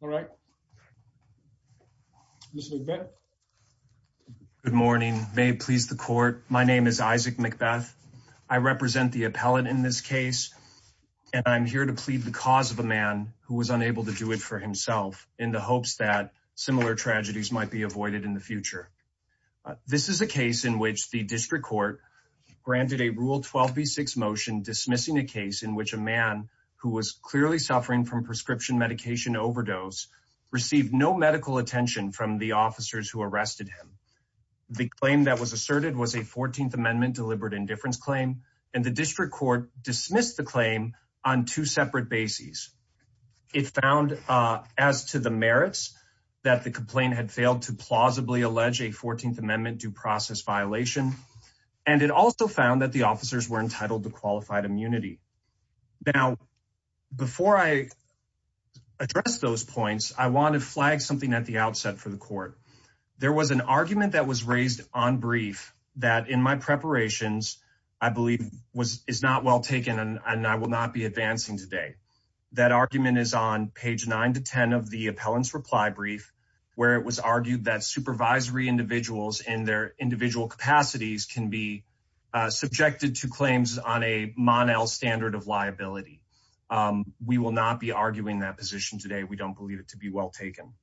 Good morning. May it please the court. My name is Isaac Macbeth. I represent the appellate in this case, and I'm here to plead the cause of a man who was unable to do it for himself in the hopes that similar tragedies might be avoided in the future. This is a case in which the district court granted a Rule 12b6 motion dismissing a case in which a man who was clearly suffering from prescription medication overdose received no medical attention from the officers who arrested him. The claim that was asserted was a 14th Amendment deliberate indifference claim, and the district court dismissed the claim on two separate bases. It found as to the merits that the complaint had failed to plausibly allege a 14th Amendment due process violation, and it also found that the officers were entitled to qualified immunity. Now, before I address those points, I want to flag something at the outset for the court. There was an argument that was raised on brief that in my preparations, I believe is not well taken, and I will not be advancing today. That argument is on page 9 to 10 of the appellant's reply brief, where it was argued that supervisory individuals in their individual capacities can be subjected to claims on a Monel standard of liability. We will not be arguing that position today. We don't believe it to be well taken.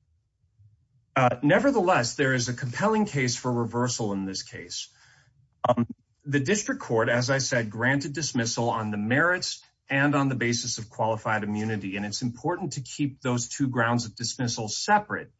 Nevertheless, there is a compelling case for reversal in this case. The district court, as I said, granted dismissal on the merits and on the basis of qualified immunity, and it's important to keep those two grounds of dismissal separate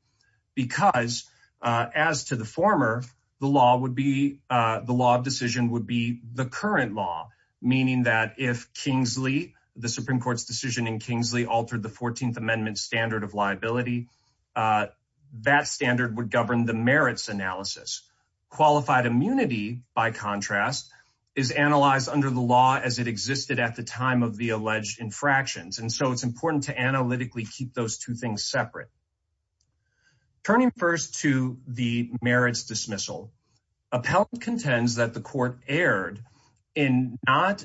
because as to the former, the law of decision would be the current law, meaning that if Kingsley, the Supreme Court's decision in Kingsley altered the 14th Amendment standard of liability, that standard would govern the merits analysis. Qualified immunity, by contrast, is analyzed under the law as it existed at the time of the alleged infractions, and so it's important to analytically keep those two things separate. Turning first to the merits dismissal, appellant contends that the court erred in not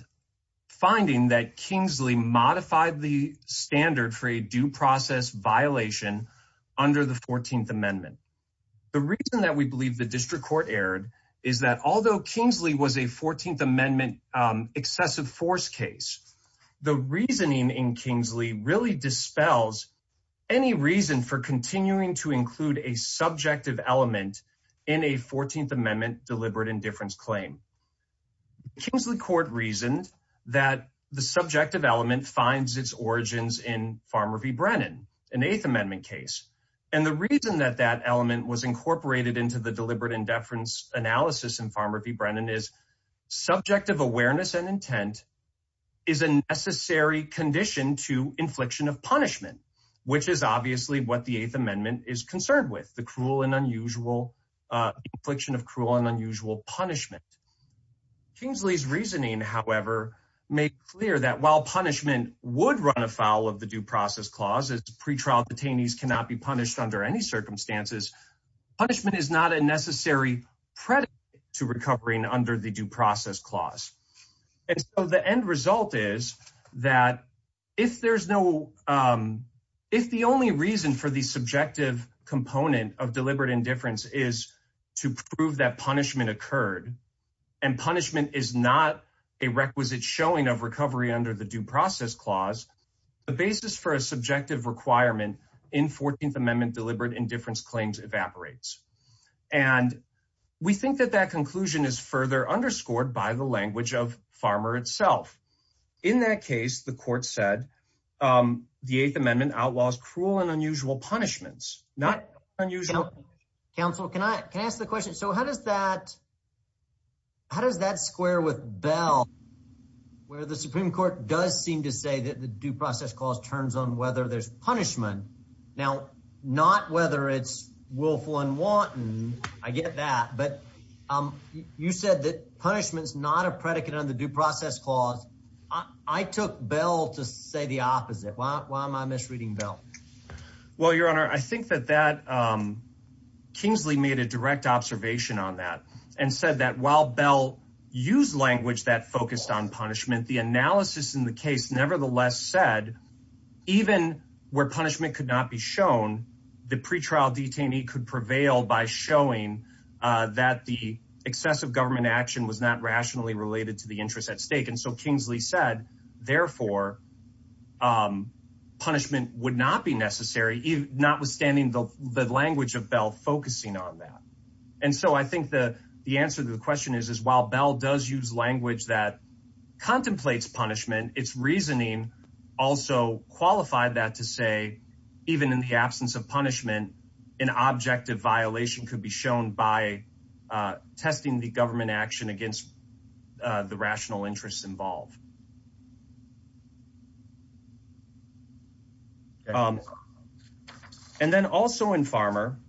finding that Kingsley modified the standard for a due process violation under the 14th Amendment. The reason that we believe the district court erred is that although Kingsley was a 14th Amendment excessive force case, the reasoning in Kingsley really dispels any reason for continuing to include a subjective element in a 14th Amendment deliberate indifference claim. Kingsley court reasoned that the subjective element finds its origins in Farmer v. Brennan, an 8th Amendment case, and the reason that that element was incorporated into the deliberate indifference analysis in Farmer v. Brennan is subjective awareness and intent is a necessary condition to infliction of punishment, which is obviously what the 8th Amendment is concerned with, the cruel and unusual infliction of cruel and unusual punishment. Kingsley's reasoning, however, made clear that while punishment would run afoul of the due process clause, as pretrial detainees cannot be punished under any circumstances, punishment is not a necessary predicate to recovering under the due process clause. And so the end result is that if there's no, if the only reason for the subjective component of deliberate indifference is to prove that punishment occurred, and punishment is not a requisite showing of recovery under the due process clause, the basis for a subjective requirement in 14th Amendment deliberate indifference claims evaporates. And we think that that conclusion is further underscored by the language of Farmer itself. In that case, the court said the 8th Amendment outlaws cruel and unusual punishments, not unusual. Counsel, can I can I ask the question? So how does that how does that square with Bell, where the Supreme Court does seem to say that the due process clause turns on whether there's punishment? Now, not whether it's willful and wanton. I get that. But you said that punishment is not a predicate on the due process clause. I took Bell to say the opposite. Why am I misreading Bell? Well, Your Honor, I think that Kingsley made a direct observation on that and said that while Bell used language that focused on punishment, the analysis in the case said, even where punishment could not be shown, the pretrial detainee could prevail by showing that the excessive government action was not rationally related to the interest at stake. And so Kingsley said, therefore, punishment would not be necessary, notwithstanding the language of Bell focusing on that. And so I think the answer to the question is, is while Bell does use language that contemplates punishment, it's reasoning also qualified that to say, even in the absence of punishment, an objective violation could be shown by testing the government action against the rational interests involved. And then also in Farmer,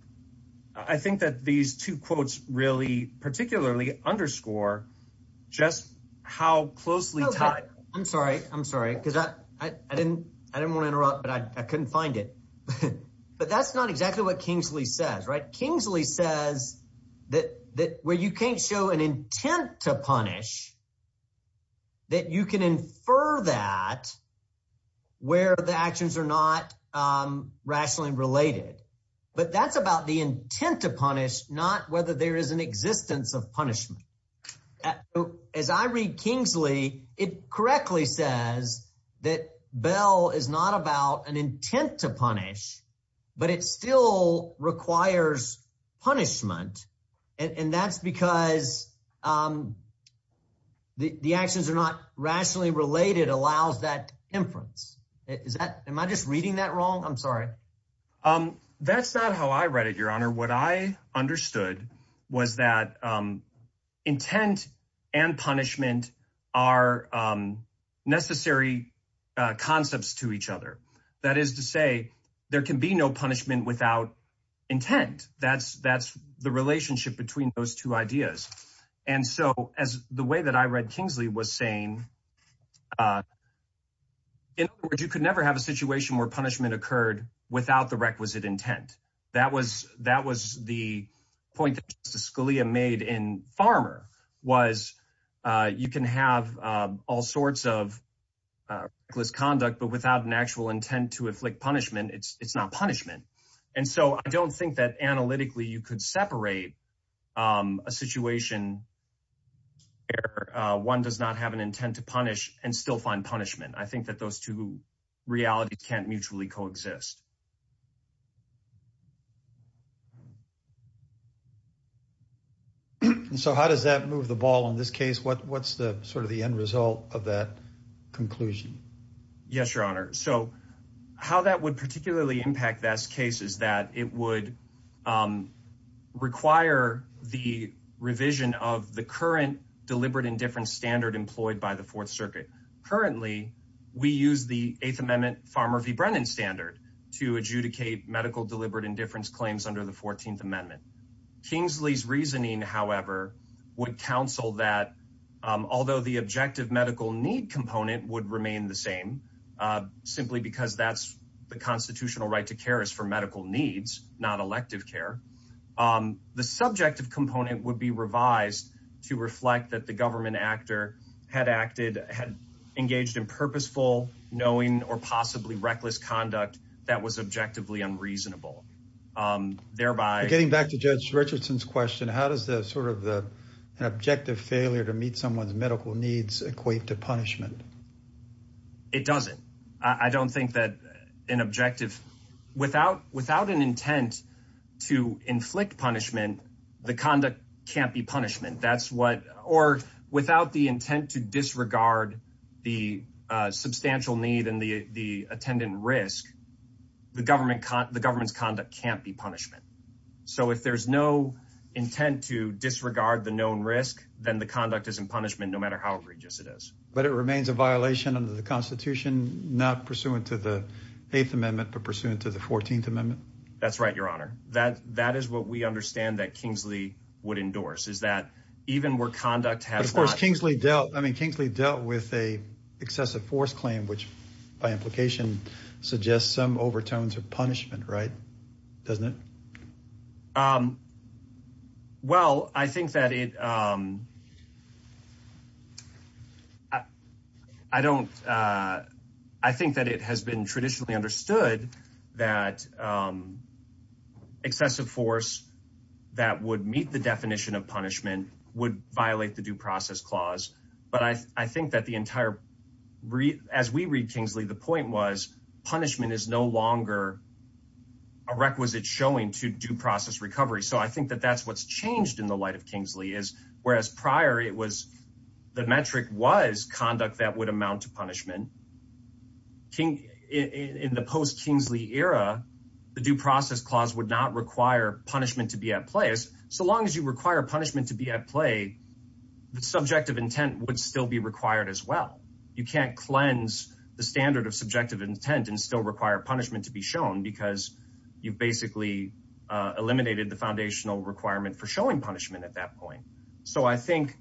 I think that these two quotes really particularly underscore just how closely tied I'm sorry, I'm sorry, because I didn't I didn't want to interrupt, but I couldn't find it. But that's not exactly what Kingsley says, right? Kingsley says that that where you can't show an intent to punish, that you can infer that where the actions are not rationally related. But that's about the intent to punish, not whether there is an it correctly says that Bell is not about an intent to punish, but it still requires punishment. And that's because the actions are not rationally related allows that inference. Is that am I just reading that wrong? I'm sorry. Um, that's not how I read it, Your Honor, what I understood was that intent and punishment are necessary concepts to each other. That is to say, there can be no punishment without intent. That's that's the relationship between those two ideas. And so as the way that I read Kingsley was saying, in which you could never have a situation where punishment occurred without the requisite intent. That was that was the point Scalia made in Farmer was, you can have all sorts of reckless conduct, but without an actual intent to afflict punishment, it's not punishment. And so I don't think that analytically, you could separate a situation where one does not have an intent to punish and still find punishment. I think that those two realities can't mutually coexist. So how does that move the ball in this case? What's the sort of the end result of that conclusion? Yes, Your Honor. So how that would particularly impact this case is that it would require the revision of the current deliberate indifference standard employed by the Fourth Circuit. Currently, we use the Eighth Amendment Farmer v. Brennan standard to adjudicate medical deliberate indifference claims under the 14th Amendment. Kingsley's reasoning, however, would counsel that although the objective medical need component would remain the same, simply because that's the constitutional right to care is for medical needs, not elective care. The subjective component would be revised to reflect that the government actor had acted, had engaged in purposeful, knowing or possibly reckless conduct that was objectively unreasonable. Getting back to Judge Richardson's question, how does the sort of the objective failure to meet someone's medical needs equate to punishment? It doesn't. I don't think that an objective without an intent to inflict punishment, the conduct can't be punishment. That's what or without the conduct can't be punishment. So if there's no intent to disregard the known risk, then the conduct is in punishment, no matter how egregious it is. But it remains a violation under the Constitution, not pursuant to the Eighth Amendment, but pursuant to the 14th Amendment? That's right, Your Honor. That is what we understand that Kingsley would endorse, is that even where conduct has not... Doesn't it? Well, I think that it, I don't, I think that it has been traditionally understood that excessive force that would meet the definition of punishment would violate the due process clause. But I think that the entire, as we read Kingsley, the point was punishment is no longer a requisite showing to due process recovery. So I think that that's what's changed in the light of Kingsley, is whereas prior it was, the metric was conduct that would amount to punishment. In the post-Kingsley era, the due process clause would not require punishment to be at place. So long as you require punishment to be at play, the subjective intent would still be required as well. You can't cleanse the standard of subjective intent and still require punishment to be shown because you've basically eliminated the foundational requirement for showing punishment at that point. So I think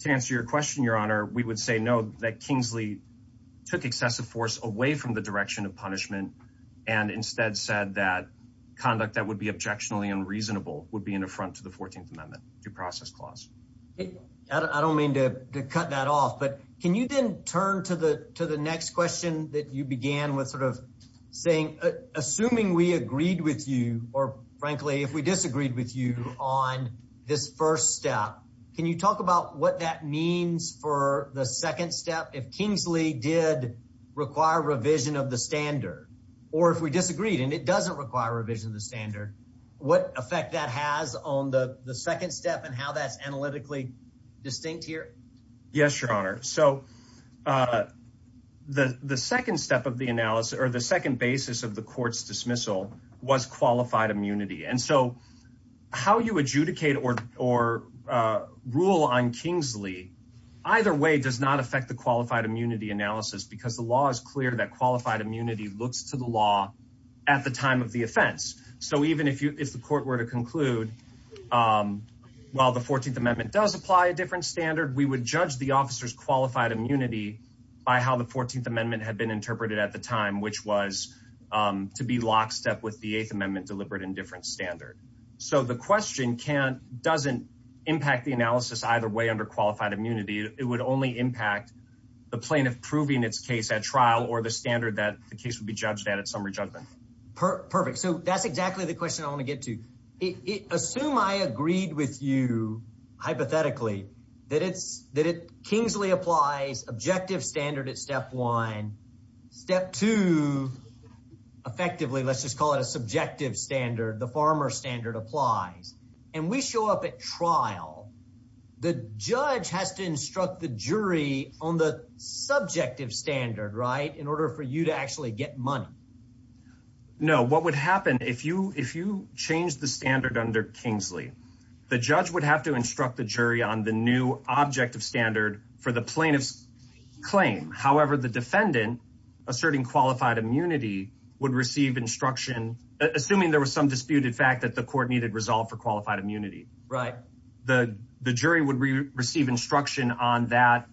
to answer your question, Your Honor, we would say no, that Kingsley took excessive force away from the direction of punishment and instead said that conduct that would be objectionably unreasonable would be an affront to the 14th Amendment, due process clause. I don't mean to cut that off, but can you then turn to the next question that you began with sort of saying, assuming we agreed with you, or frankly, if we disagreed with you on this first step, can you talk about what that means for the second step? If Kingsley did require revision of the standard, or if we disagreed and it doesn't require revision of the standard, what effect that has on the second step and how that's analytically distinct here? Yes, Your Honor. So the second step of the analysis or the second basis of the court's dismissal was qualified immunity. And so how you adjudicate or rule on Kingsley, either way, does not affect the qualified immunity analysis because the law is clear that qualified immunity looks to the law at the time of the offense. So even if the court were to conclude, well, the 14th Amendment does apply a different standard. We would judge the officer's qualified immunity by how the 14th Amendment had been interpreted at the time, which was to be lockstep with the 8th Amendment deliberate and different standard. So the question doesn't impact the analysis either way under qualified immunity. It would only impact the plaintiff proving its case at trial or the standard that the case would be judged at its summary judgment. Perfect. So that's exactly the question I want to get to it. Assume I agreed with you hypothetically that it's that it Kingsley applies objective standard at step one. Step two, effectively, let's just call it a subjective standard. The farmer standard applies and we show up at trial. The judge has to instruct the jury on the subjective standard. Right. In order for you to actually get money. No, what would happen if you change the standard under Kingsley? The judge would have to instruct the jury on the new objective standard for the plaintiff's claim. However, the defendant asserting qualified immunity would receive instruction. Assuming there was some disputed fact that the court needed resolve for qualified immunity. Right. The jury would receive instruction on that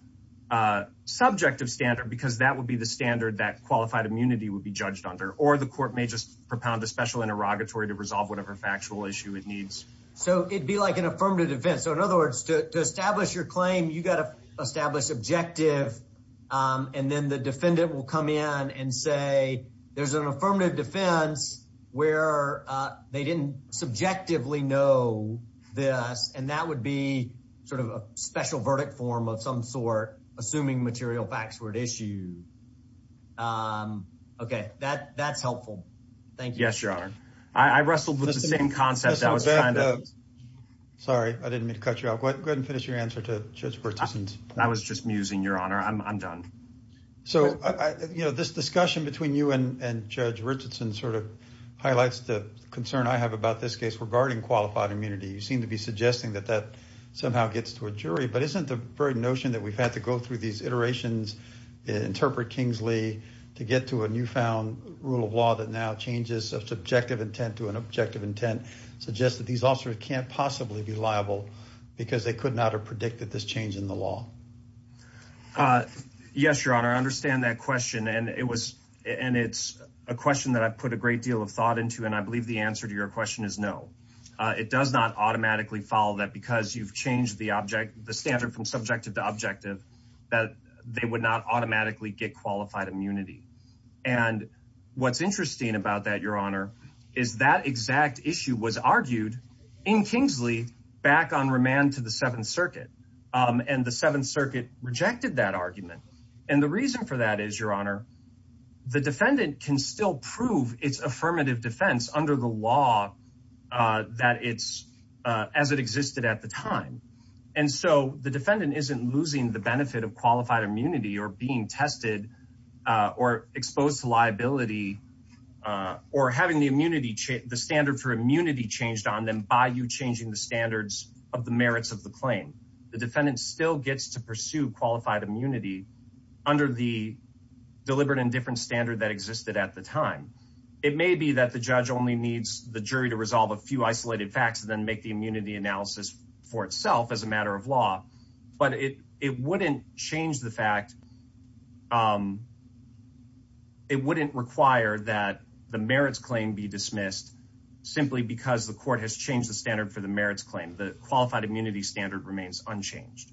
subjective standard because that would be the standard that qualified immunity would be judged under. Or the court may just propound a special interrogatory to resolve whatever factual issue it needs. So it'd be like an affirmative defense. So in other words, to establish your claim, you got to establish objective. And then the defendant will come in and say there's an affirmative defense where they didn't subjectively know this. And that would be sort of a special verdict form of some sort, assuming material facts were at issue. OK, that that's helpful. Thank you. Yes, your honor. I wrestled with the same concept. Sorry, I didn't mean to cut you off. Go ahead and finish your answer to participants. I was just musing, your honor. I'm done. So, you know, this discussion between you and Judge Richardson sort of highlights the concern I have about this case regarding qualified immunity. You seem to be suggesting that that somehow gets to a jury. But isn't the very notion that we've had to go through these iterations, interpret Kingsley to get to a newfound rule of law that now changes of subjective intent to an objective intent? Suggest that these officers can't possibly be liable because they could not have predicted this change in the law. Yes, your honor. I understand that question. And it was and it's a question that I've put a great deal of thought into. And I believe the answer to your question is no, it does not automatically follow that because you've changed the object, the standard from subjective to objective that they would not automatically get qualified immunity. And what's interesting about that, your honor, is that exact issue was argued in Kingsley back on remand to the Seventh Circuit and the Seventh Circuit rejected that argument. And the reason for that is, your honor, the defendant can still prove its affirmative defense under the law that it's as it existed at the time. And so the defendant isn't losing the benefit of qualified immunity or being tested or exposed to liability or having the immunity, the standard for immunity changed on them by you changing the standards of the merits of the claim. The defendant still gets to pursue qualified immunity under the deliberate and different standard that existed at the time. It may be that the judge only needs the jury to resolve a few isolated facts and then make the immunity analysis for itself as a matter of law. But it wouldn't change the fact it wouldn't require that the merits claim be dismissed simply because the court has changed the standard for the merits claim. The qualified immunity standard remains unchanged.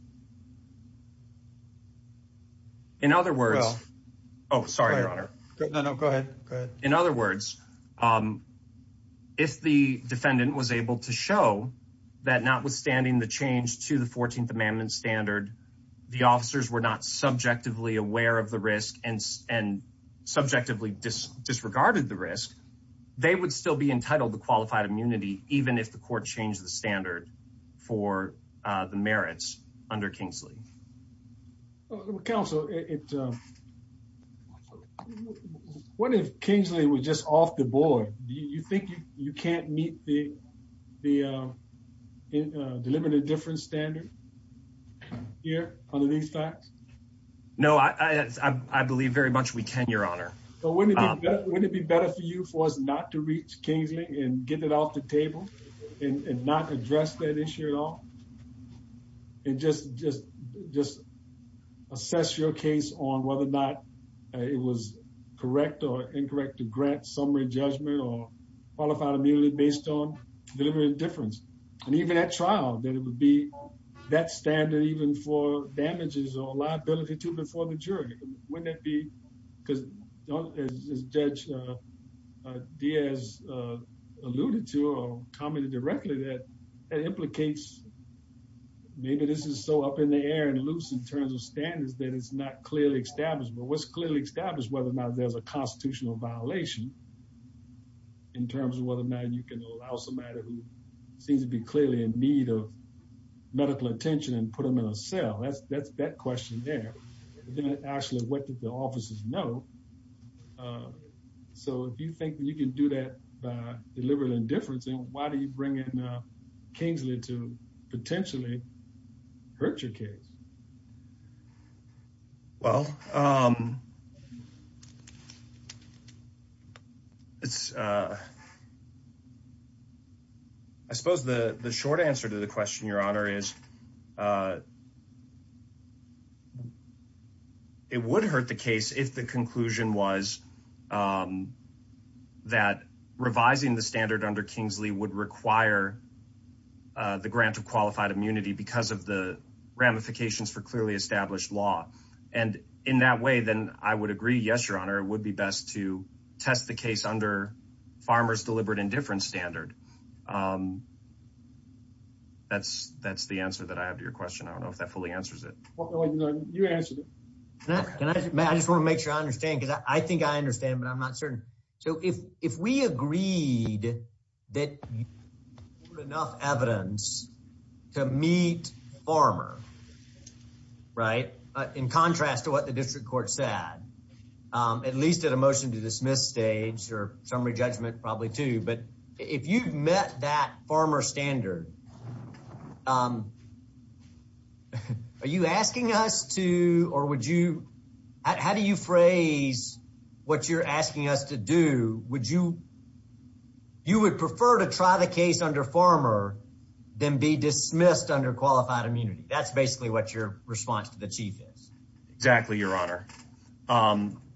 In other words, oh, sorry, your honor. No, no, go ahead. In other words, if the defendant was able to show that notwithstanding the change to the 14th Amendment standard, the officers were not subjectively aware of the risk and subjectively disregarded the risk. They would still be entitled to qualified immunity, even if the court changed the standard for the merits under Kingsley. Counsel, what if Kingsley was just off the board? Do you think you can't meet the deliberate and different standard here under these facts? No, I believe very much we can, your honor. But wouldn't it be better for you for us not to reach Kingsley and get it off the table and not address that issue at all? And just assess your case on whether or not it was correct or incorrect to grant summary judgment or qualified immunity based on deliberate and different. And even at trial, that it would be that standard even for damages or liability to before the jury. Wouldn't that be because, as Judge Diaz alluded to or commented directly, that it implicates maybe this is so up in the air and loose in terms of standards that it's not clearly established. But what's clearly established whether or not there's a constitutional violation in terms of whether or not you can allow somebody who seems to be clearly in need of medical attention and put them in a cell. That's that question there. Then actually, what did the officers know? So if you think you can do that deliberate indifference, then why do you bring in Kingsley to potentially hurt your case? Well, I suppose the short answer to the question, your honor, is it would hurt the case if the conclusion was that revising the standard under Kingsley would require the grant of qualified immunity. Because of the ramifications for clearly established law. And in that way, then I would agree. Yes, your honor, it would be best to test the case under farmers deliberate indifference standard. That's that's the answer that I have to your question. I don't know if that fully answers it. You answer that. And I just want to make sure I understand because I think I understand, but I'm not certain. So if if we agreed that enough evidence to meet farmer. Right. In contrast to what the district court said, at least at a motion to dismiss stage or summary judgment, probably too. But if you met that farmer standard, are you asking us to or would you how do you phrase what you're asking us to do? Would you you would prefer to try the case under farmer than be dismissed under qualified immunity? That's basically what your response to the chief is. Exactly. Your honor.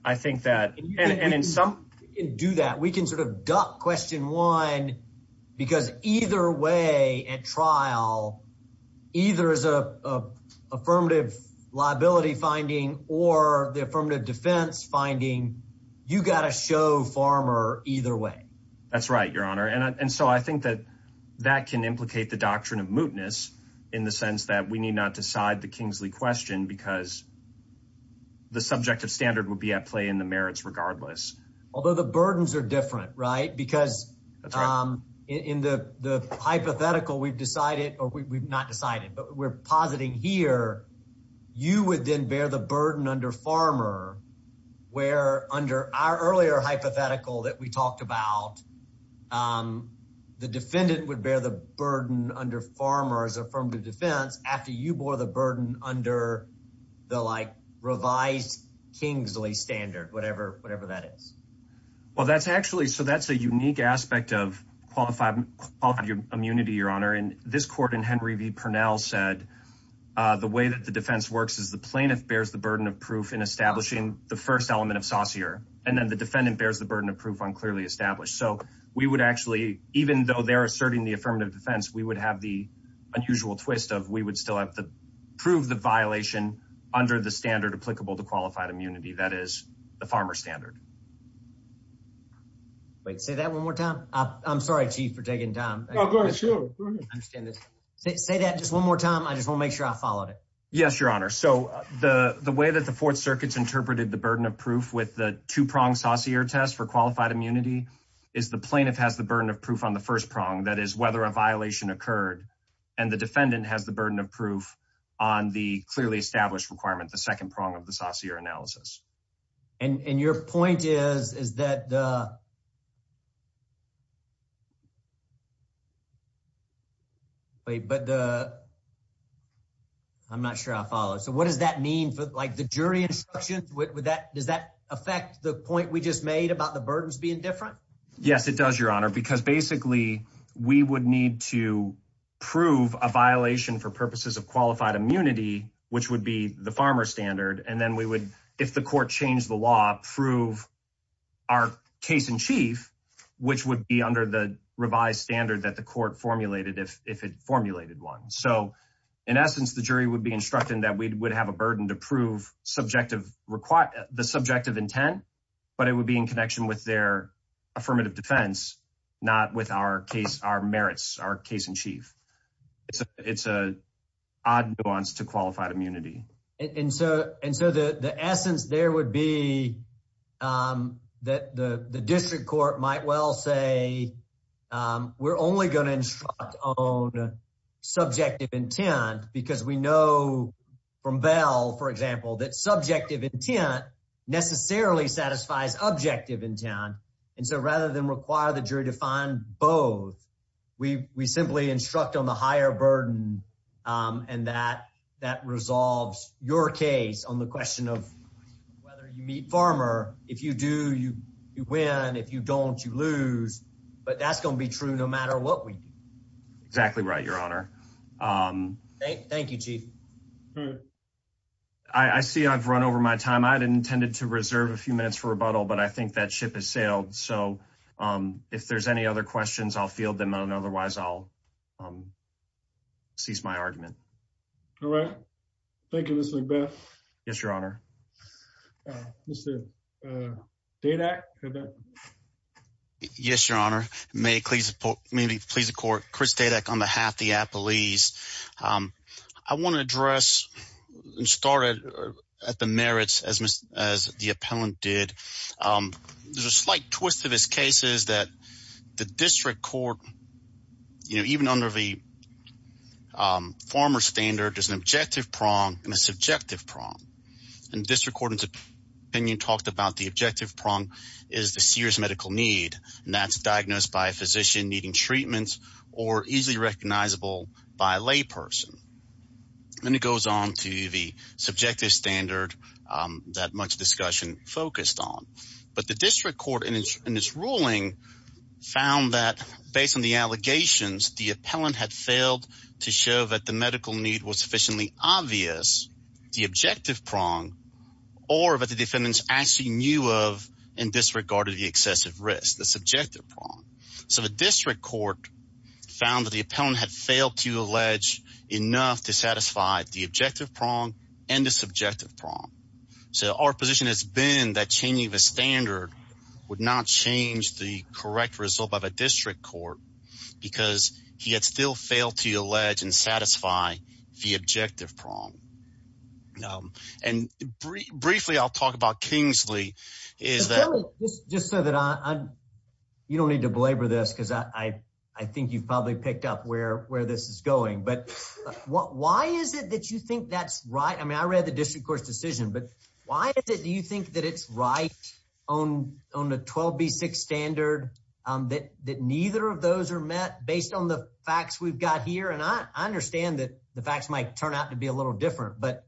I think that in some do that, we can sort of duck question one, because either way at trial, either as a affirmative liability finding or the affirmative defense finding, you got to show farmer either way. That's right, your honor. And so I think that that can implicate the doctrine of mootness in the sense that we need not decide the Kingsley question because the subjective standard will be at play in the merits regardless. Although the burdens are different. Right. Because in the hypothetical, we've decided or we've not decided, but we're positing here. You would then bear the burden under farmer where under our earlier hypothetical that we talked about, the defendant would bear the burden under farmers or from the defense after you bore the burden under the like revised Kingsley standard, whatever, whatever that is. Well, that's actually so that's a unique aspect of qualified immunity, your honor. And this court in Henry v. Pernell said the way that the defense works is the plaintiff bears the burden of proof in establishing the first element of saucier. And then the defendant bears the burden of proof on clearly established. So we would actually, even though they're asserting the affirmative defense, we would have the unusual twist of we would still have to prove the violation under the standard applicable to qualified immunity. That is the farmer standard. Wait, say that one more time. I'm sorry, chief, for taking time. Say that just one more time. I just want to make sure I followed it. Yes, your honor. So the way that the fourth circuits interpreted the burden of proof with the two prong saucier test for qualified immunity is the plaintiff has the burden of proof on the first prong. That is whether a violation occurred and the defendant has the burden of proof on the clearly established requirement. The second prong of the saucier analysis. And your point is, is that the. But the. I'm not sure I follow. So what does that mean for like the jury instruction with that? Does that affect the point we just made about the burdens being different? Yes, it does, your honor, because basically we would need to prove a violation for purposes of qualified immunity, which would be the farmer standard. And then we would, if the court changed the law, prove our case in chief, which would be under the revised standard that the court formulated, if it formulated one. So in essence, the jury would be instructed that we would have a burden to prove subjective, the subjective intent, but it would be in connection with their affirmative defense, not with our case, our merits, our case in chief. It's a odd nuance to qualified immunity. And so and so the essence there would be that the district court might well say we're only going to instruct on subjective intent because we know from Bell, for example, that subjective intent necessarily satisfies objective intent. And so rather than require the jury to find both, we simply instruct on the higher burden and that that resolves your case on the question of whether you meet farmer. If you do, you win. If you don't, you lose. But that's going to be true no matter what we do. That's exactly right, Your Honor. Thank you, Chief. I see I've run over my time. I had intended to reserve a few minutes for rebuttal, but I think that ship has sailed. So if there's any other questions, I'll field them. Otherwise, I'll cease my argument. All right. Thank you. Yes, Your Honor. The data. Yes, Your Honor. May please. Maybe please, of course, Chris Dadek on behalf of the police. I want to address and start at the merits as the appellant did. There's a slight twist to this case is that the district court, you know, even under the farmer standard, there's an objective prong and a subjective prong. And district court's opinion talked about the objective prong is the serious medical need, and that's diagnosed by a physician needing treatment or easily recognizable by a layperson. And it goes on to the subjective standard that much discussion focused on. But the district court in its ruling found that based on the allegations, the appellant had failed to show that the medical need was sufficiently obvious, the objective prong, or that the defendants actually knew of and disregarded the excessive risk, the subjective prong. So the district court found that the appellant had failed to allege enough to satisfy the objective prong and the subjective prong. So our position has been that changing the standard would not change the correct result of a district court because he had still failed to allege and satisfy the objective prong. And briefly, I'll talk about Kingsley is that just so that you don't need to belabor this because I think you've probably picked up where this is going. But why is it that you think that's right? I mean, I read the district court's decision, but why is it do you think that it's right on the 12B6 standard that neither of those are met based on the facts we've got here? And I understand that the facts might turn out to be a little different, but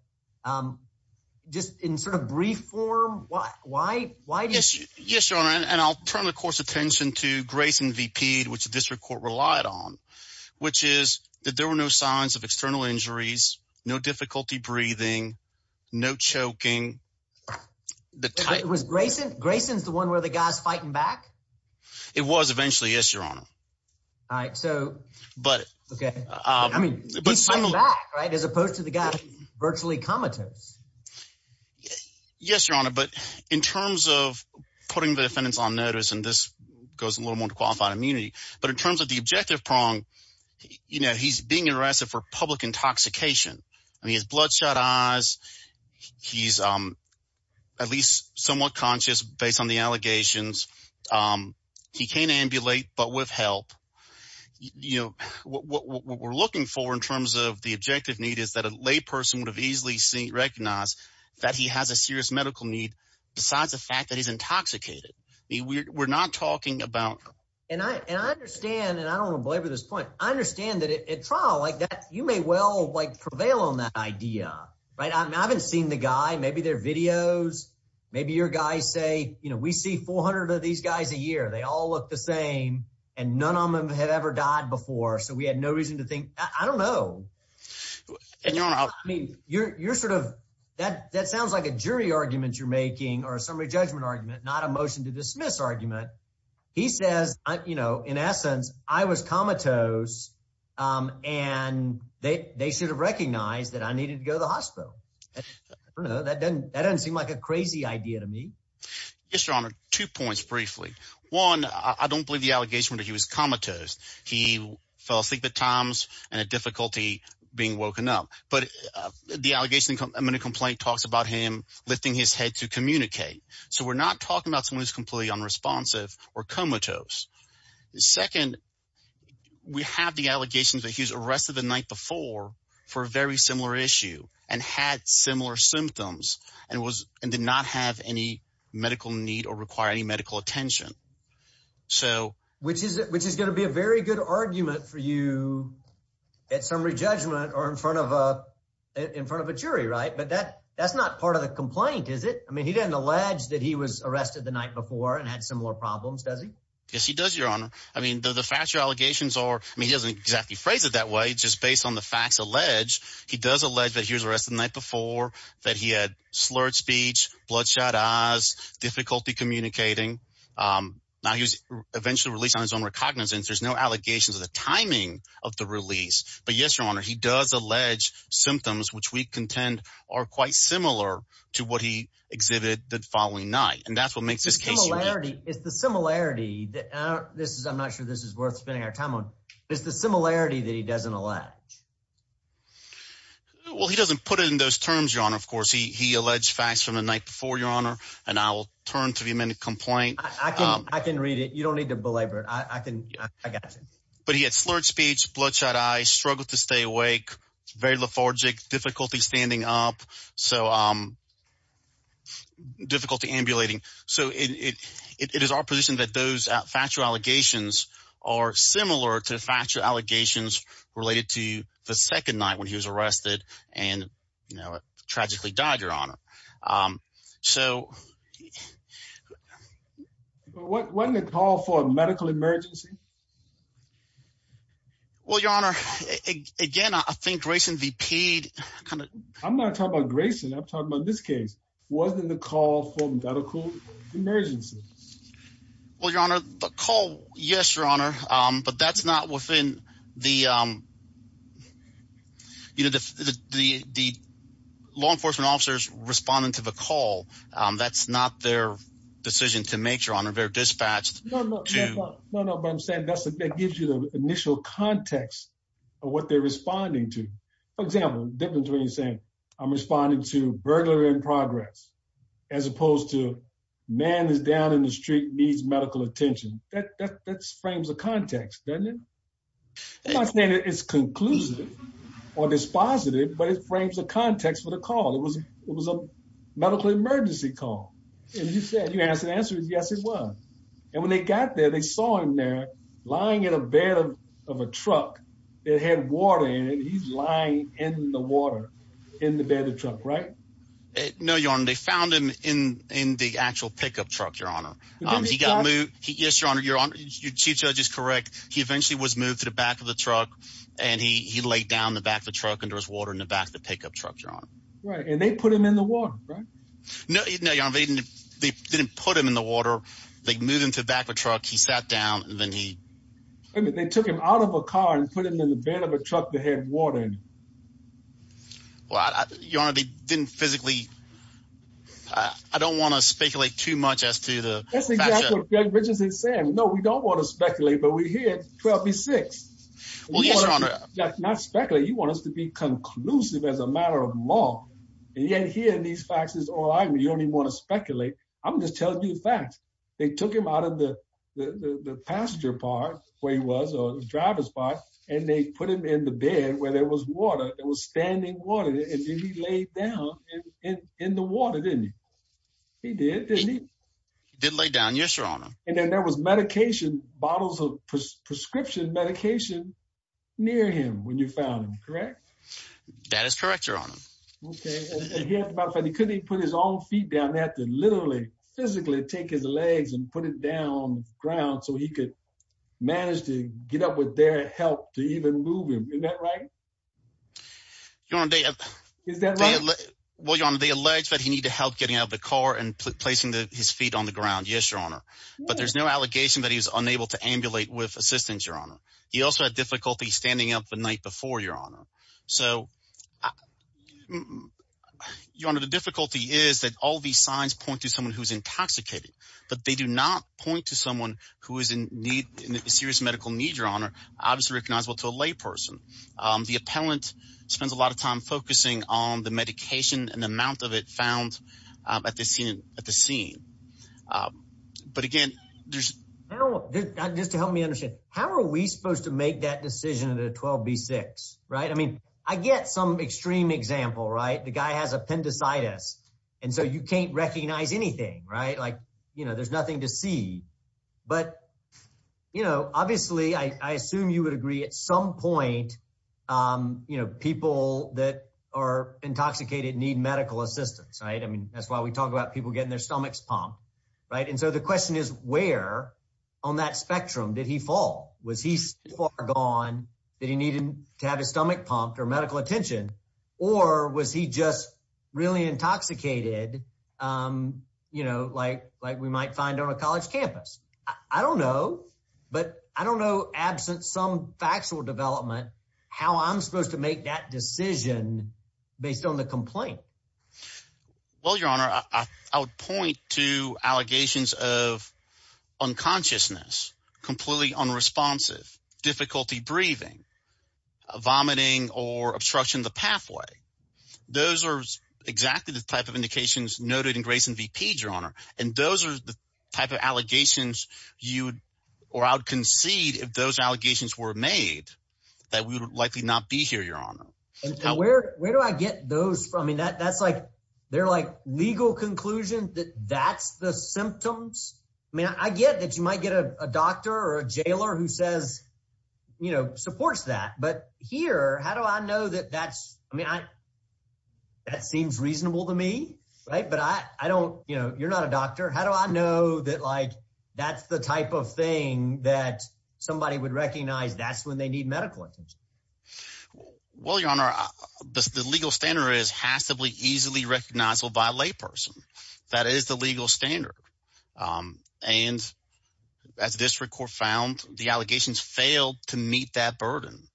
just in sort of brief form, why do you think? Grayson's the one where the guy's fighting back? It was eventually. Yes, Your Honor. All right. So but OK, I mean, as opposed to the guy virtually comatose. Yes, Your Honor. But in terms of putting the defendants on notice and this goes a little more qualified immunity, but in terms of the objective prong, you know, he's being arrested for public intoxication. I mean, his bloodshot eyes. He's at least somewhat conscious based on the allegations. He can't ambulate, but with help, you know, what we're looking for in terms of the objective need is that a lay person would have easily seen recognize that he has a serious medical need. Besides the fact that he's intoxicated, we're not talking about and I understand and I don't belabor this point. I understand that at trial like that, you may well like prevail on that idea. Right. I haven't seen the guy. Maybe their videos. Maybe your guys say, you know, we see 400 of these guys a year. They all look the same and none of them have ever died before. So we had no reason to think. I don't know. I mean, you're you're sort of that. That sounds like a jury argument you're making or a summary judgment argument, not a motion to dismiss argument. He says, you know, in essence, I was comatose and they should have recognized that I needed to go to the hospital. That doesn't that doesn't seem like a crazy idea to me. Yes, your honor. Two points briefly. One, I don't believe the allegation that he was comatose. He fell asleep at times and a difficulty being woken up. But the allegation in a complaint talks about him lifting his head to communicate. So we're not talking about someone who's completely unresponsive or comatose. Second, we have the allegations that he was arrested the night before for a very similar issue and had similar symptoms and was and did not have any medical need or require any medical attention. So which is which is going to be a very good argument for you at summary judgment or in front of in front of a jury. Right. But that that's not part of the complaint, is it? I mean, he didn't allege that he was arrested the night before and had similar problems, does he? Yes, he does, your honor. I mean, the factual allegations are he doesn't exactly phrase it that way. But just based on the facts alleged, he does allege that he was arrested the night before, that he had slurred speech, bloodshot eyes, difficulty communicating. Now, he was eventually released on his own recognizance. There's no allegations of the timing of the release. But, yes, your honor, he does allege symptoms which we contend are quite similar to what he exhibited the following night. And that's what makes this case. It's the similarity that this is I'm not sure this is worth spending our time on. It's the similarity that he doesn't allege. Well, he doesn't put it in those terms, your honor. Of course, he alleged facts from the night before, your honor. And I will turn to him in a complaint. I can I can read it. You don't need to belabor it. I can. I got it. But he had slurred speech, bloodshot eyes, struggled to stay awake, very lethargic, difficulty standing up. So difficult to ambulating. So it is our position that those factual allegations are similar to factual allegations related to the second night when he was arrested and tragically died, your honor. So what when they call for a medical emergency? Well, your honor, again, I think Grayson V.P. I'm not talking about Grayson. I'm talking about this case. Wasn't the call for medical emergency? Well, your honor, the call. Yes, your honor. But that's not within the law enforcement officers responding to the call. That's not their decision to make. Your honor, they're dispatched. No, no, but I'm saying that gives you the initial context of what they're responding to. For example, difference when you're saying I'm responding to burglary in progress as opposed to man is down in the street, needs medical attention. That's frames of context, doesn't it? I'm not saying it's conclusive or dispositive, but it frames a context for the call. It was it was a medical emergency call. And you said you asked the answer. Yes, it was. And when they got there, they saw him there lying in a bed of of a truck that had water in it. He's lying in the water in the bed of truck. Right. No, your honor. They found him in in the actual pickup truck. Your honor. He got me. Yes, your honor. Your honor, your chief judge is correct. He eventually was moved to the back of the truck and he laid down the back of the truck and there was water in the back of the pickup truck. Right. And they put him in the water. Right. No, no, your honor. They didn't put him in the water. They moved him to the back of a truck. He sat down and then he took him out of a car and put him in the bed of a truck that had water in it. Well, your honor, they didn't physically. I don't want to speculate too much as to the. No, we don't want to speculate, but we hear it. Not speculating. You want us to be conclusive as a matter of law? And yet here in these faxes or you don't even want to speculate. I'm just telling you the facts. They took him out of the passenger part where he was or the driver's part. And they put him in the bed where there was water. It was standing water. And he laid down in the water, didn't he? He did. He did lay down. Yes, your honor. And then there was medication bottles of prescription medication near him when you found him. Correct. That is correct, your honor. He couldn't even put his own feet down. They had to literally physically take his legs and put it down on the ground so he could manage to get up with their help to even move him. Is that right? Well, your honor, they allege that he need to help getting out of the car and placing his feet on the ground. Yes, your honor. But there's no allegation that he was unable to ambulate with assistance, your honor. He also had difficulty standing up the night before, your honor. So, your honor, the difficulty is that all these signs point to someone who's intoxicated. But they do not point to someone who is in need, in serious medical need, your honor. Obviously recognizable to a lay person. The appellant spends a lot of time focusing on the medication and the amount of it found at the scene. But again, there's... Just to help me understand, how are we supposed to make that decision at a 12B6, right? I mean, I get some extreme example, right? The guy has appendicitis. And so you can't recognize anything, right? Like, you know, there's nothing to see. But, you know, obviously, I assume you would agree at some point, you know, people that are intoxicated need medical assistance, right? I mean, that's why we talk about people getting their stomachs pumped, right? And so the question is, where on that spectrum did he fall? Was he so far gone that he needed to have his stomach pumped or medical attention? Or was he just really intoxicated, you know, like we might find on a college campus? I don't know. But I don't know, absent some factual development, how I'm supposed to make that decision based on the complaint. Well, Your Honor, I would point to allegations of unconsciousness, completely unresponsive, difficulty breathing, vomiting or obstruction of the pathway. Those are exactly the type of indications noted in Grayson V.P., Your Honor. And those are the type of allegations you would – or I would concede if those allegations were made that we would likely not be here, Your Honor. And where do I get those from? I mean, that's like – they're like legal conclusions that that's the symptoms. I mean I get that you might get a doctor or a jailer who says – you know, supports that. But here, how do I know that that's – I mean that seems reasonable to me, right? But I don't – you know, you're not a doctor. How do I know that like that's the type of thing that somebody would recognize that's when they need medical attention? Well, Your Honor, the legal standard is has to be easily recognizable by a layperson. That is the legal standard. And as this court found, the allegations failed to meet that burden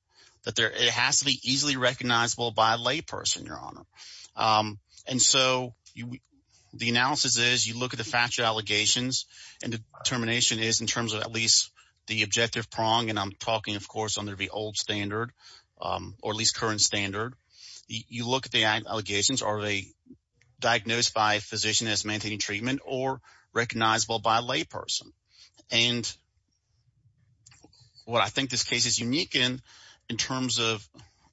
that there – it has to be easily recognizable by a layperson, Your Honor. And so the analysis is you look at the factual allegations and the determination is in terms of at least the objective prong. And I'm talking, of course, under the old standard or at least current standard. You look at the allegations. Are they diagnosed by a physician that's maintaining treatment or recognizable by a layperson? And what I think this case is unique in, in terms of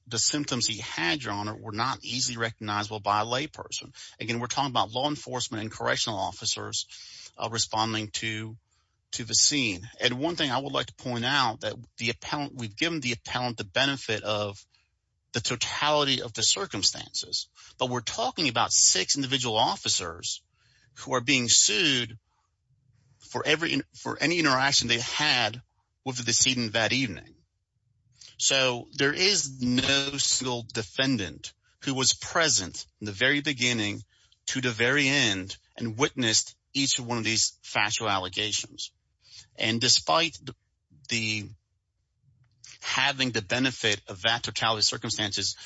the symptoms he had, Your Honor, were not easily recognizable by a layperson. Again, we're talking about law enforcement and correctional officers responding to the scene. And one thing I would like to point out, that the appellant – we've given the appellant the benefit of the totality of the circumstances. But we're talking about six individual officers who are being sued for any interaction they had with the decedent that evening. So there is no single defendant who was present in the very beginning to the very end and witnessed each one of these factual allegations. And despite the – having the benefit of that totality of circumstances,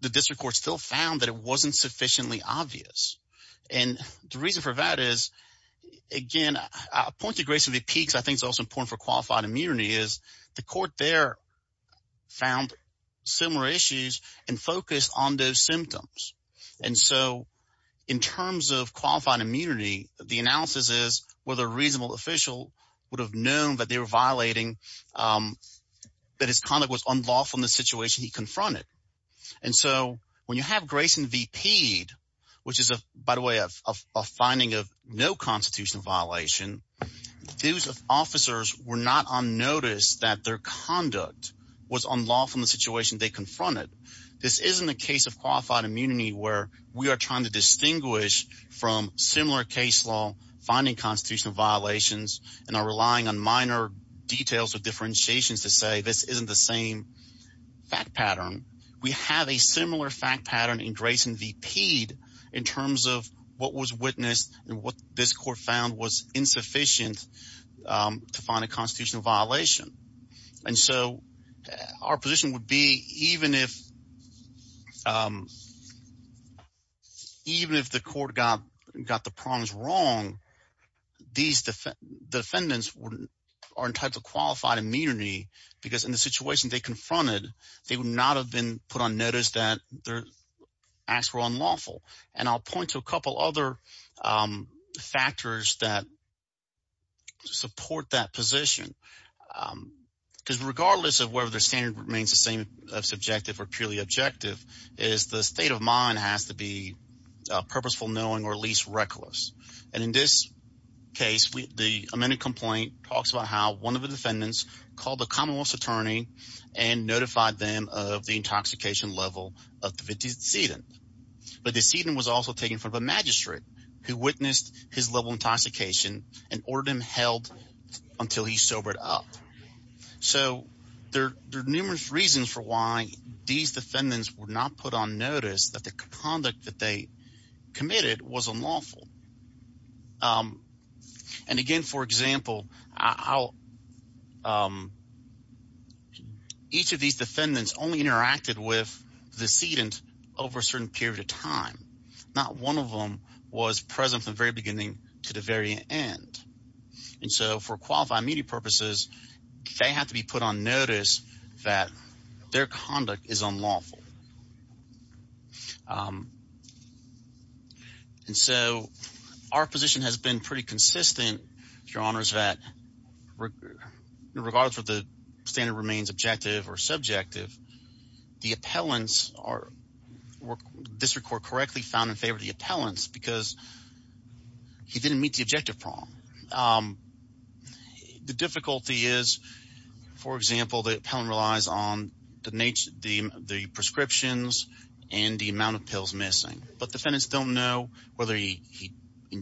the district court still found that it wasn't sufficiently obvious. And the reason for that is, again, I point to Grace of the Peaks. I think it's also important for qualified immunity is the court there found similar issues and focused on those symptoms. And so in terms of qualified immunity, the analysis is whether a reasonable official would have known that they were violating – that his conduct was unlawful in the situation he confronted. And so when you have Grace and VP, which is, by the way, a finding of no constitutional violation, those officers were not unnoticed that their conduct was unlawful in the situation they confronted. This isn't a case of qualified immunity where we are trying to distinguish from similar case law finding constitutional violations and are relying on minor details or differentiations to say this isn't the same fact pattern. We have a similar fact pattern in Grace and VP in terms of what was witnessed and what this court found was insufficient to find a constitutional violation. And so our position would be even if the court got the problems wrong, these defendants are entitled to qualified immunity because in the situation they confronted, they would not have been put on notice that their acts were unlawful. And I'll point to a couple other factors that support that position because regardless of whether their standard remains the same as subjective or purely objective is the state of mind has to be purposeful knowing or at least reckless. And in this case, the amended complaint talks about how one of the defendants called the commonwealth's attorney and notified them of the intoxication level of the defendant. But the defendant was also taken from a magistrate who witnessed his level of intoxication and ordered him held until he sobered up. So there are numerous reasons for why these defendants were not put on notice that the conduct that they committed was unlawful. And again, for example, how each of these defendants only interacted with the decedent over a certain period of time. Not one of them was present from the very beginning to the very end. And so for qualified immunity purposes, they have to be put on notice that their conduct is unlawful. And so our position has been pretty consistent, Your Honors, that regardless of whether the standard remains objective or subjective, the appellants are – district court correctly found in favor of the appellants because he didn't meet the objective problem. The difficulty is, for example, the appellant relies on the prescriptions and the amount of pills missing. But defendants don't know whether he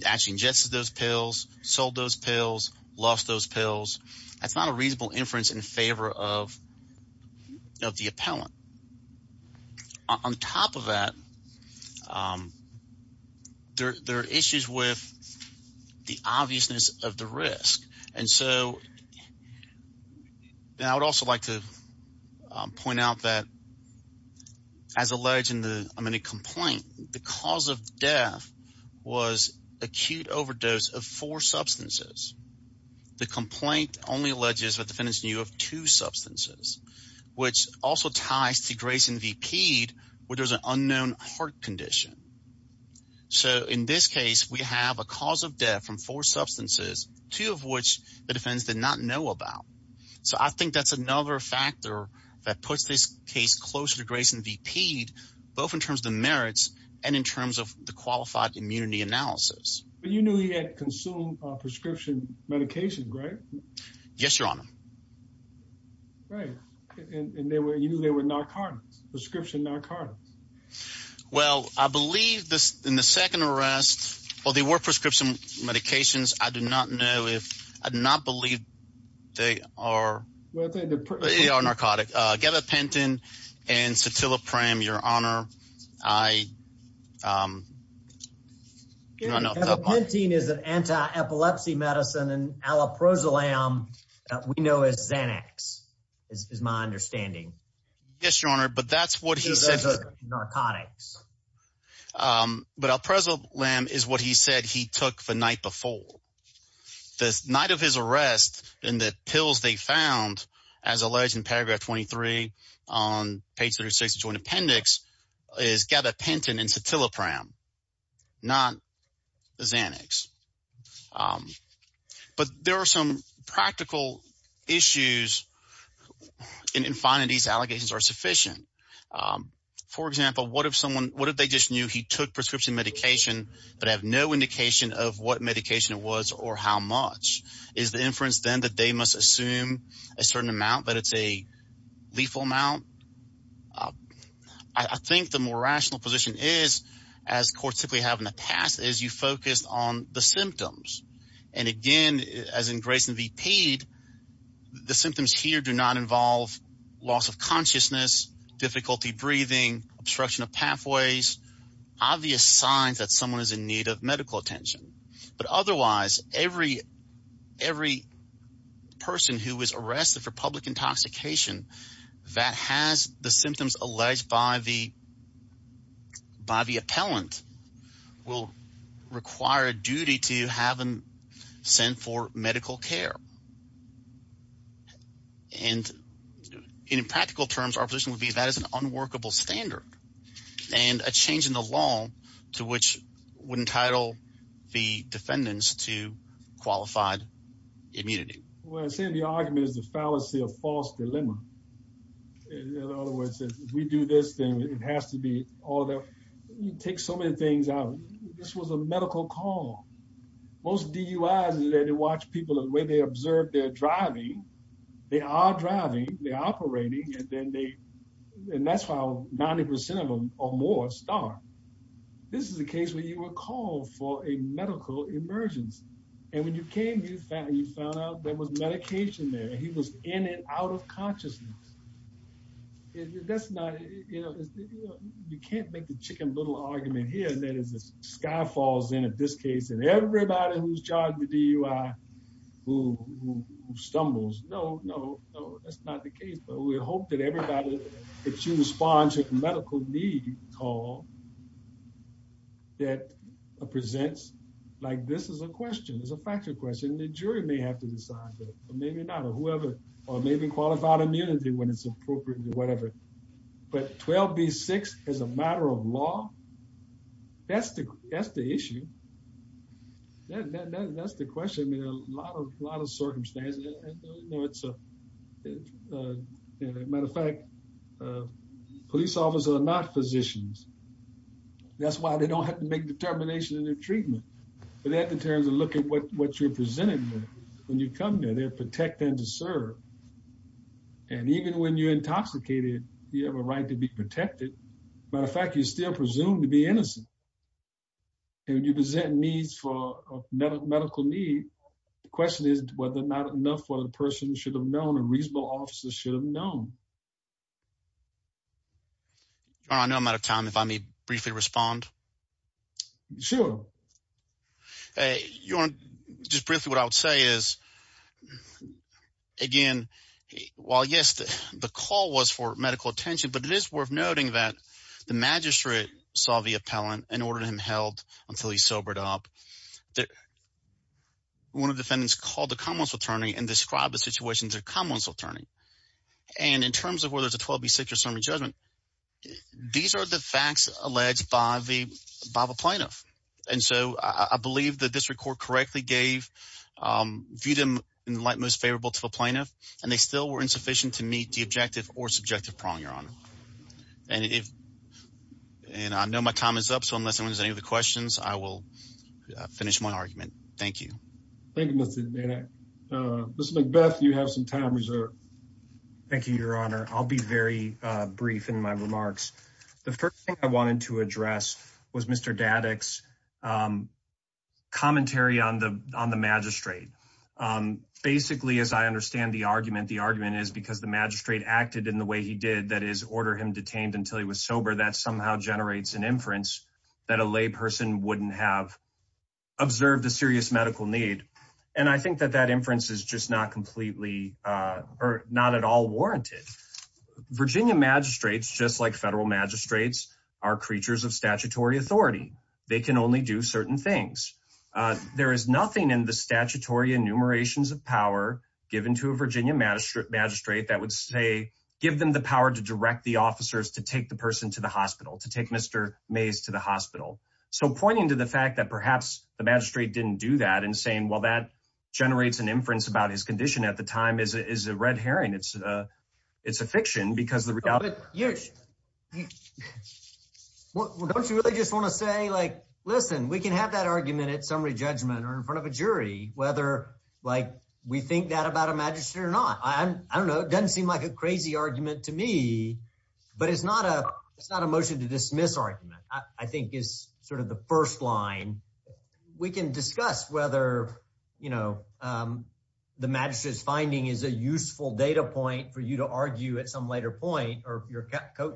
actually ingested those pills, sold those pills, lost those pills. That's not a reasonable inference in favor of the appellant. On top of that, there are issues with the obviousness of the risk. And so I would also like to point out that as alleged in the complaint, the cause of death was acute overdose of four substances. The complaint only alleges that defendants knew of two substances, which also ties to Grayson v. Pede, where there was an unknown heart condition. So in this case, we have a cause of death from four substances, two of which the defendants did not know about. So I think that's another factor that puts this case closer to Grayson v. Pede, both in terms of the merits and in terms of the qualified immunity analysis. But you knew he had consumed prescription medication, right? Yes, Your Honor. Right. And you knew they were narcotics, prescription narcotics. Well, I believe in the second arrest, while they were prescription medications, I do not know if I do not believe they are narcotic. Gabapentin and Cetilipram, Your Honor, I don't know. Gabapentin is an anti-epilepsy medicine and aloprosilam that we know is Xanax, is my understanding. Yes, Your Honor. But that's what he said. Narcotics. But aloprosilam is what he said he took the night before. So the night of his arrest and the pills they found, as alleged in paragraph 23 on page 36 of the Joint Appendix, is Gabapentin and Cetilipram, not Xanax. But there are some practical issues in finding these allegations are sufficient. For example, what if they just knew he took prescription medication but have no indication of what medication it was or how much? Is the inference then that they must assume a certain amount, that it's a lethal amount? I think the more rational position is, as courts typically have in the past, is you focus on the symptoms. And again, as in Grayson v. Pede, the symptoms here do not involve loss of consciousness, difficulty breathing, obstruction of pathways, obvious signs that someone is in need of medical attention. But otherwise, every person who is arrested for public intoxication that has the symptoms alleged by the appellant will require a duty to have them sent for medical care. And in practical terms, our position would be that is an unworkable standard and a change in the law to which would entitle the defendants to qualified immunity. Well, I say the argument is the fallacy of false dilemma. In other words, if we do this, then it has to be all there. You take so many things out. This was a medical call. Most DUIs are there to watch people, the way they observe their driving. They are driving, they're operating, and that's how 90% of them or more start. This is a case where you were called for a medical emergence. And when you came, you found out there was medication there. He was in and out of consciousness. That's not, you know, you can't make the chicken little argument here that is the sky falls in at this case and everybody who's charged with DUI who stumbles. No, no, no, that's not the case. We hope that everybody that you respond to medical need call that presents like this is a question is a factor question. The jury may have to decide, but maybe not or whoever, or maybe qualified immunity when it's appropriate, whatever. But 12 be six as a matter of law. That's the, that's the issue. That's the question. I mean, a lot of lot of circumstances. It's a matter of fact, police officers are not physicians. That's why they don't have to make determination in their treatment. In terms of looking at what what you're presenting. When you come in and protect them to serve. And even when you're intoxicated, you have a right to be protected. Matter of fact, you still presume to be innocent. And you present needs for medical medical need. Question is whether or not enough for the person should have known a reasonable officer should have known. I know I'm out of time if I may briefly respond. Sure. Hey, you want to just briefly what I would say is, again, while yes, the call was for medical attention, but it is worth noting that the magistrate saw the appellant and ordered him held until he sobered up. One of the defendants called the commons attorney and described the situation to a commons attorney. And in terms of where there's a 12 B, six or seven judgment. These are the facts alleged by the Bible plaintiff. And so I believe the district court correctly gave them in the light most favorable to a plaintiff. And they still were insufficient to meet the objective or subjective prong. And if and I know my time is up. So unless there's any other questions, I will finish my argument. Thank you. Thank you. Mr. Macbeth, you have some time reserved. Thank you, Your Honor. I'll be very brief in my remarks. The first thing I wanted to address was Mr. Dad X commentary on the on the magistrate. Basically, as I understand the argument, the argument is because the magistrate acted in the way he did that is order him detained until he was sober. That somehow generates an inference that a lay person wouldn't have observed a serious medical need. And I think that that inference is just not completely or not at all warranted. Virginia magistrates, just like federal magistrates, are creatures of statutory authority. They can only do certain things. There is nothing in the statutory enumerations of power given to a Virginia magistrate that would say, give them the power to direct the officers to take the person to the hospital to take Mr. Mays to the hospital. So pointing to the fact that perhaps the magistrate didn't do that and saying, well, that generates an inference about his condition at the time is a red herring. It's a it's a fiction because the reality. Well, don't you really just want to say, like, listen, we can have that argument at summary judgment or in front of a jury, whether, like, we think that about a magistrate or not. I don't know. It doesn't seem like a crazy argument to me, but it's not a it's not a motion to dismiss argument, I think, is sort of the first line. We can discuss whether, you know, the magistrate's finding is a useful data point for you to argue at some later point or your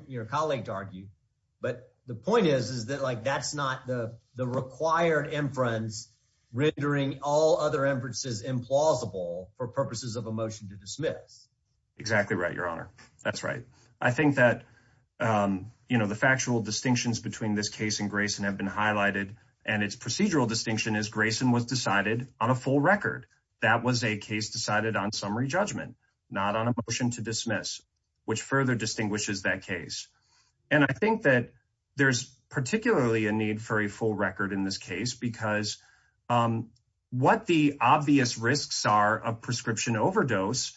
your colleague to argue. But the point is, is that like that's not the the required inference rendering all other inferences implausible for purposes of a motion to dismiss. Exactly right. Your honor. That's right. I think that, you know, the factual distinctions between this case and Grayson have been highlighted and its procedural distinction is Grayson was decided on a full record. That was a case decided on summary judgment, not on a motion to dismiss, which further distinguishes that case. And I think that there's particularly a need for a full record in this case, because what the obvious risks are of prescription overdose,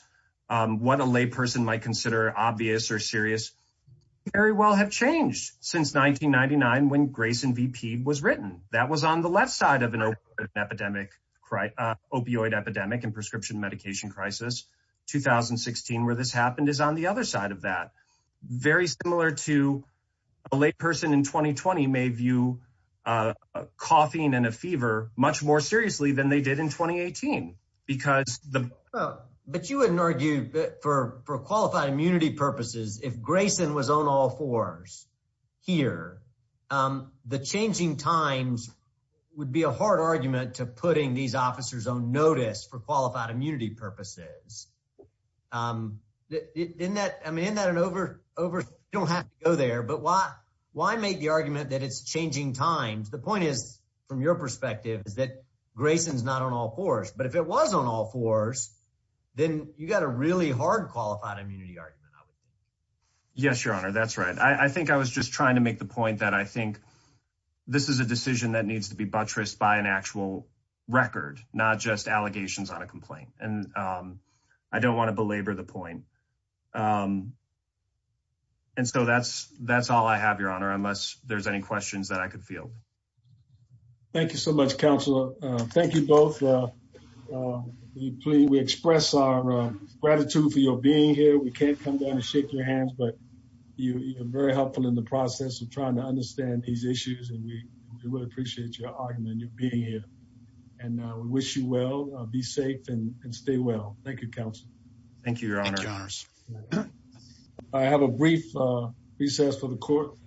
what a layperson might consider obvious or serious, very well have changed since 1999 when Grayson V.P. was written. That was on the left side of an epidemic, opioid epidemic and prescription medication crisis. 2016, where this happened is on the other side of that. Very similar to a layperson in 2020 may view coughing and a fever much more seriously than they did in 2018 because. But you wouldn't argue that for for qualified immunity purposes, if Grayson was on all fours here, the changing times would be a hard argument to putting these officers on notice for qualified immunity purposes. In that, I mean, in that an over over don't have to go there, but why why make the argument that it's changing times? The point is, from your perspective, is that Grayson is not on all fours. But if it was on all fours, then you got a really hard qualified immunity argument. Yes, Your Honor, that's right. I think I was just trying to make the point that I think this is a decision that needs to be buttressed by an actual record, not just allegations on a complaint. And I don't want to belabor the point. And so that's that's all I have, Your Honor, unless there's any questions that I could feel. Thank you so much, Counselor. Thank you both. We express our gratitude for your being here. We can't come down and shake your hands, but you are very helpful in the process of trying to understand these issues. And we really appreciate your argument and your being here. And we wish you well, be safe and stay well. Thank you, Counselor. Thank you, Your Honor. I have a brief recess for the court.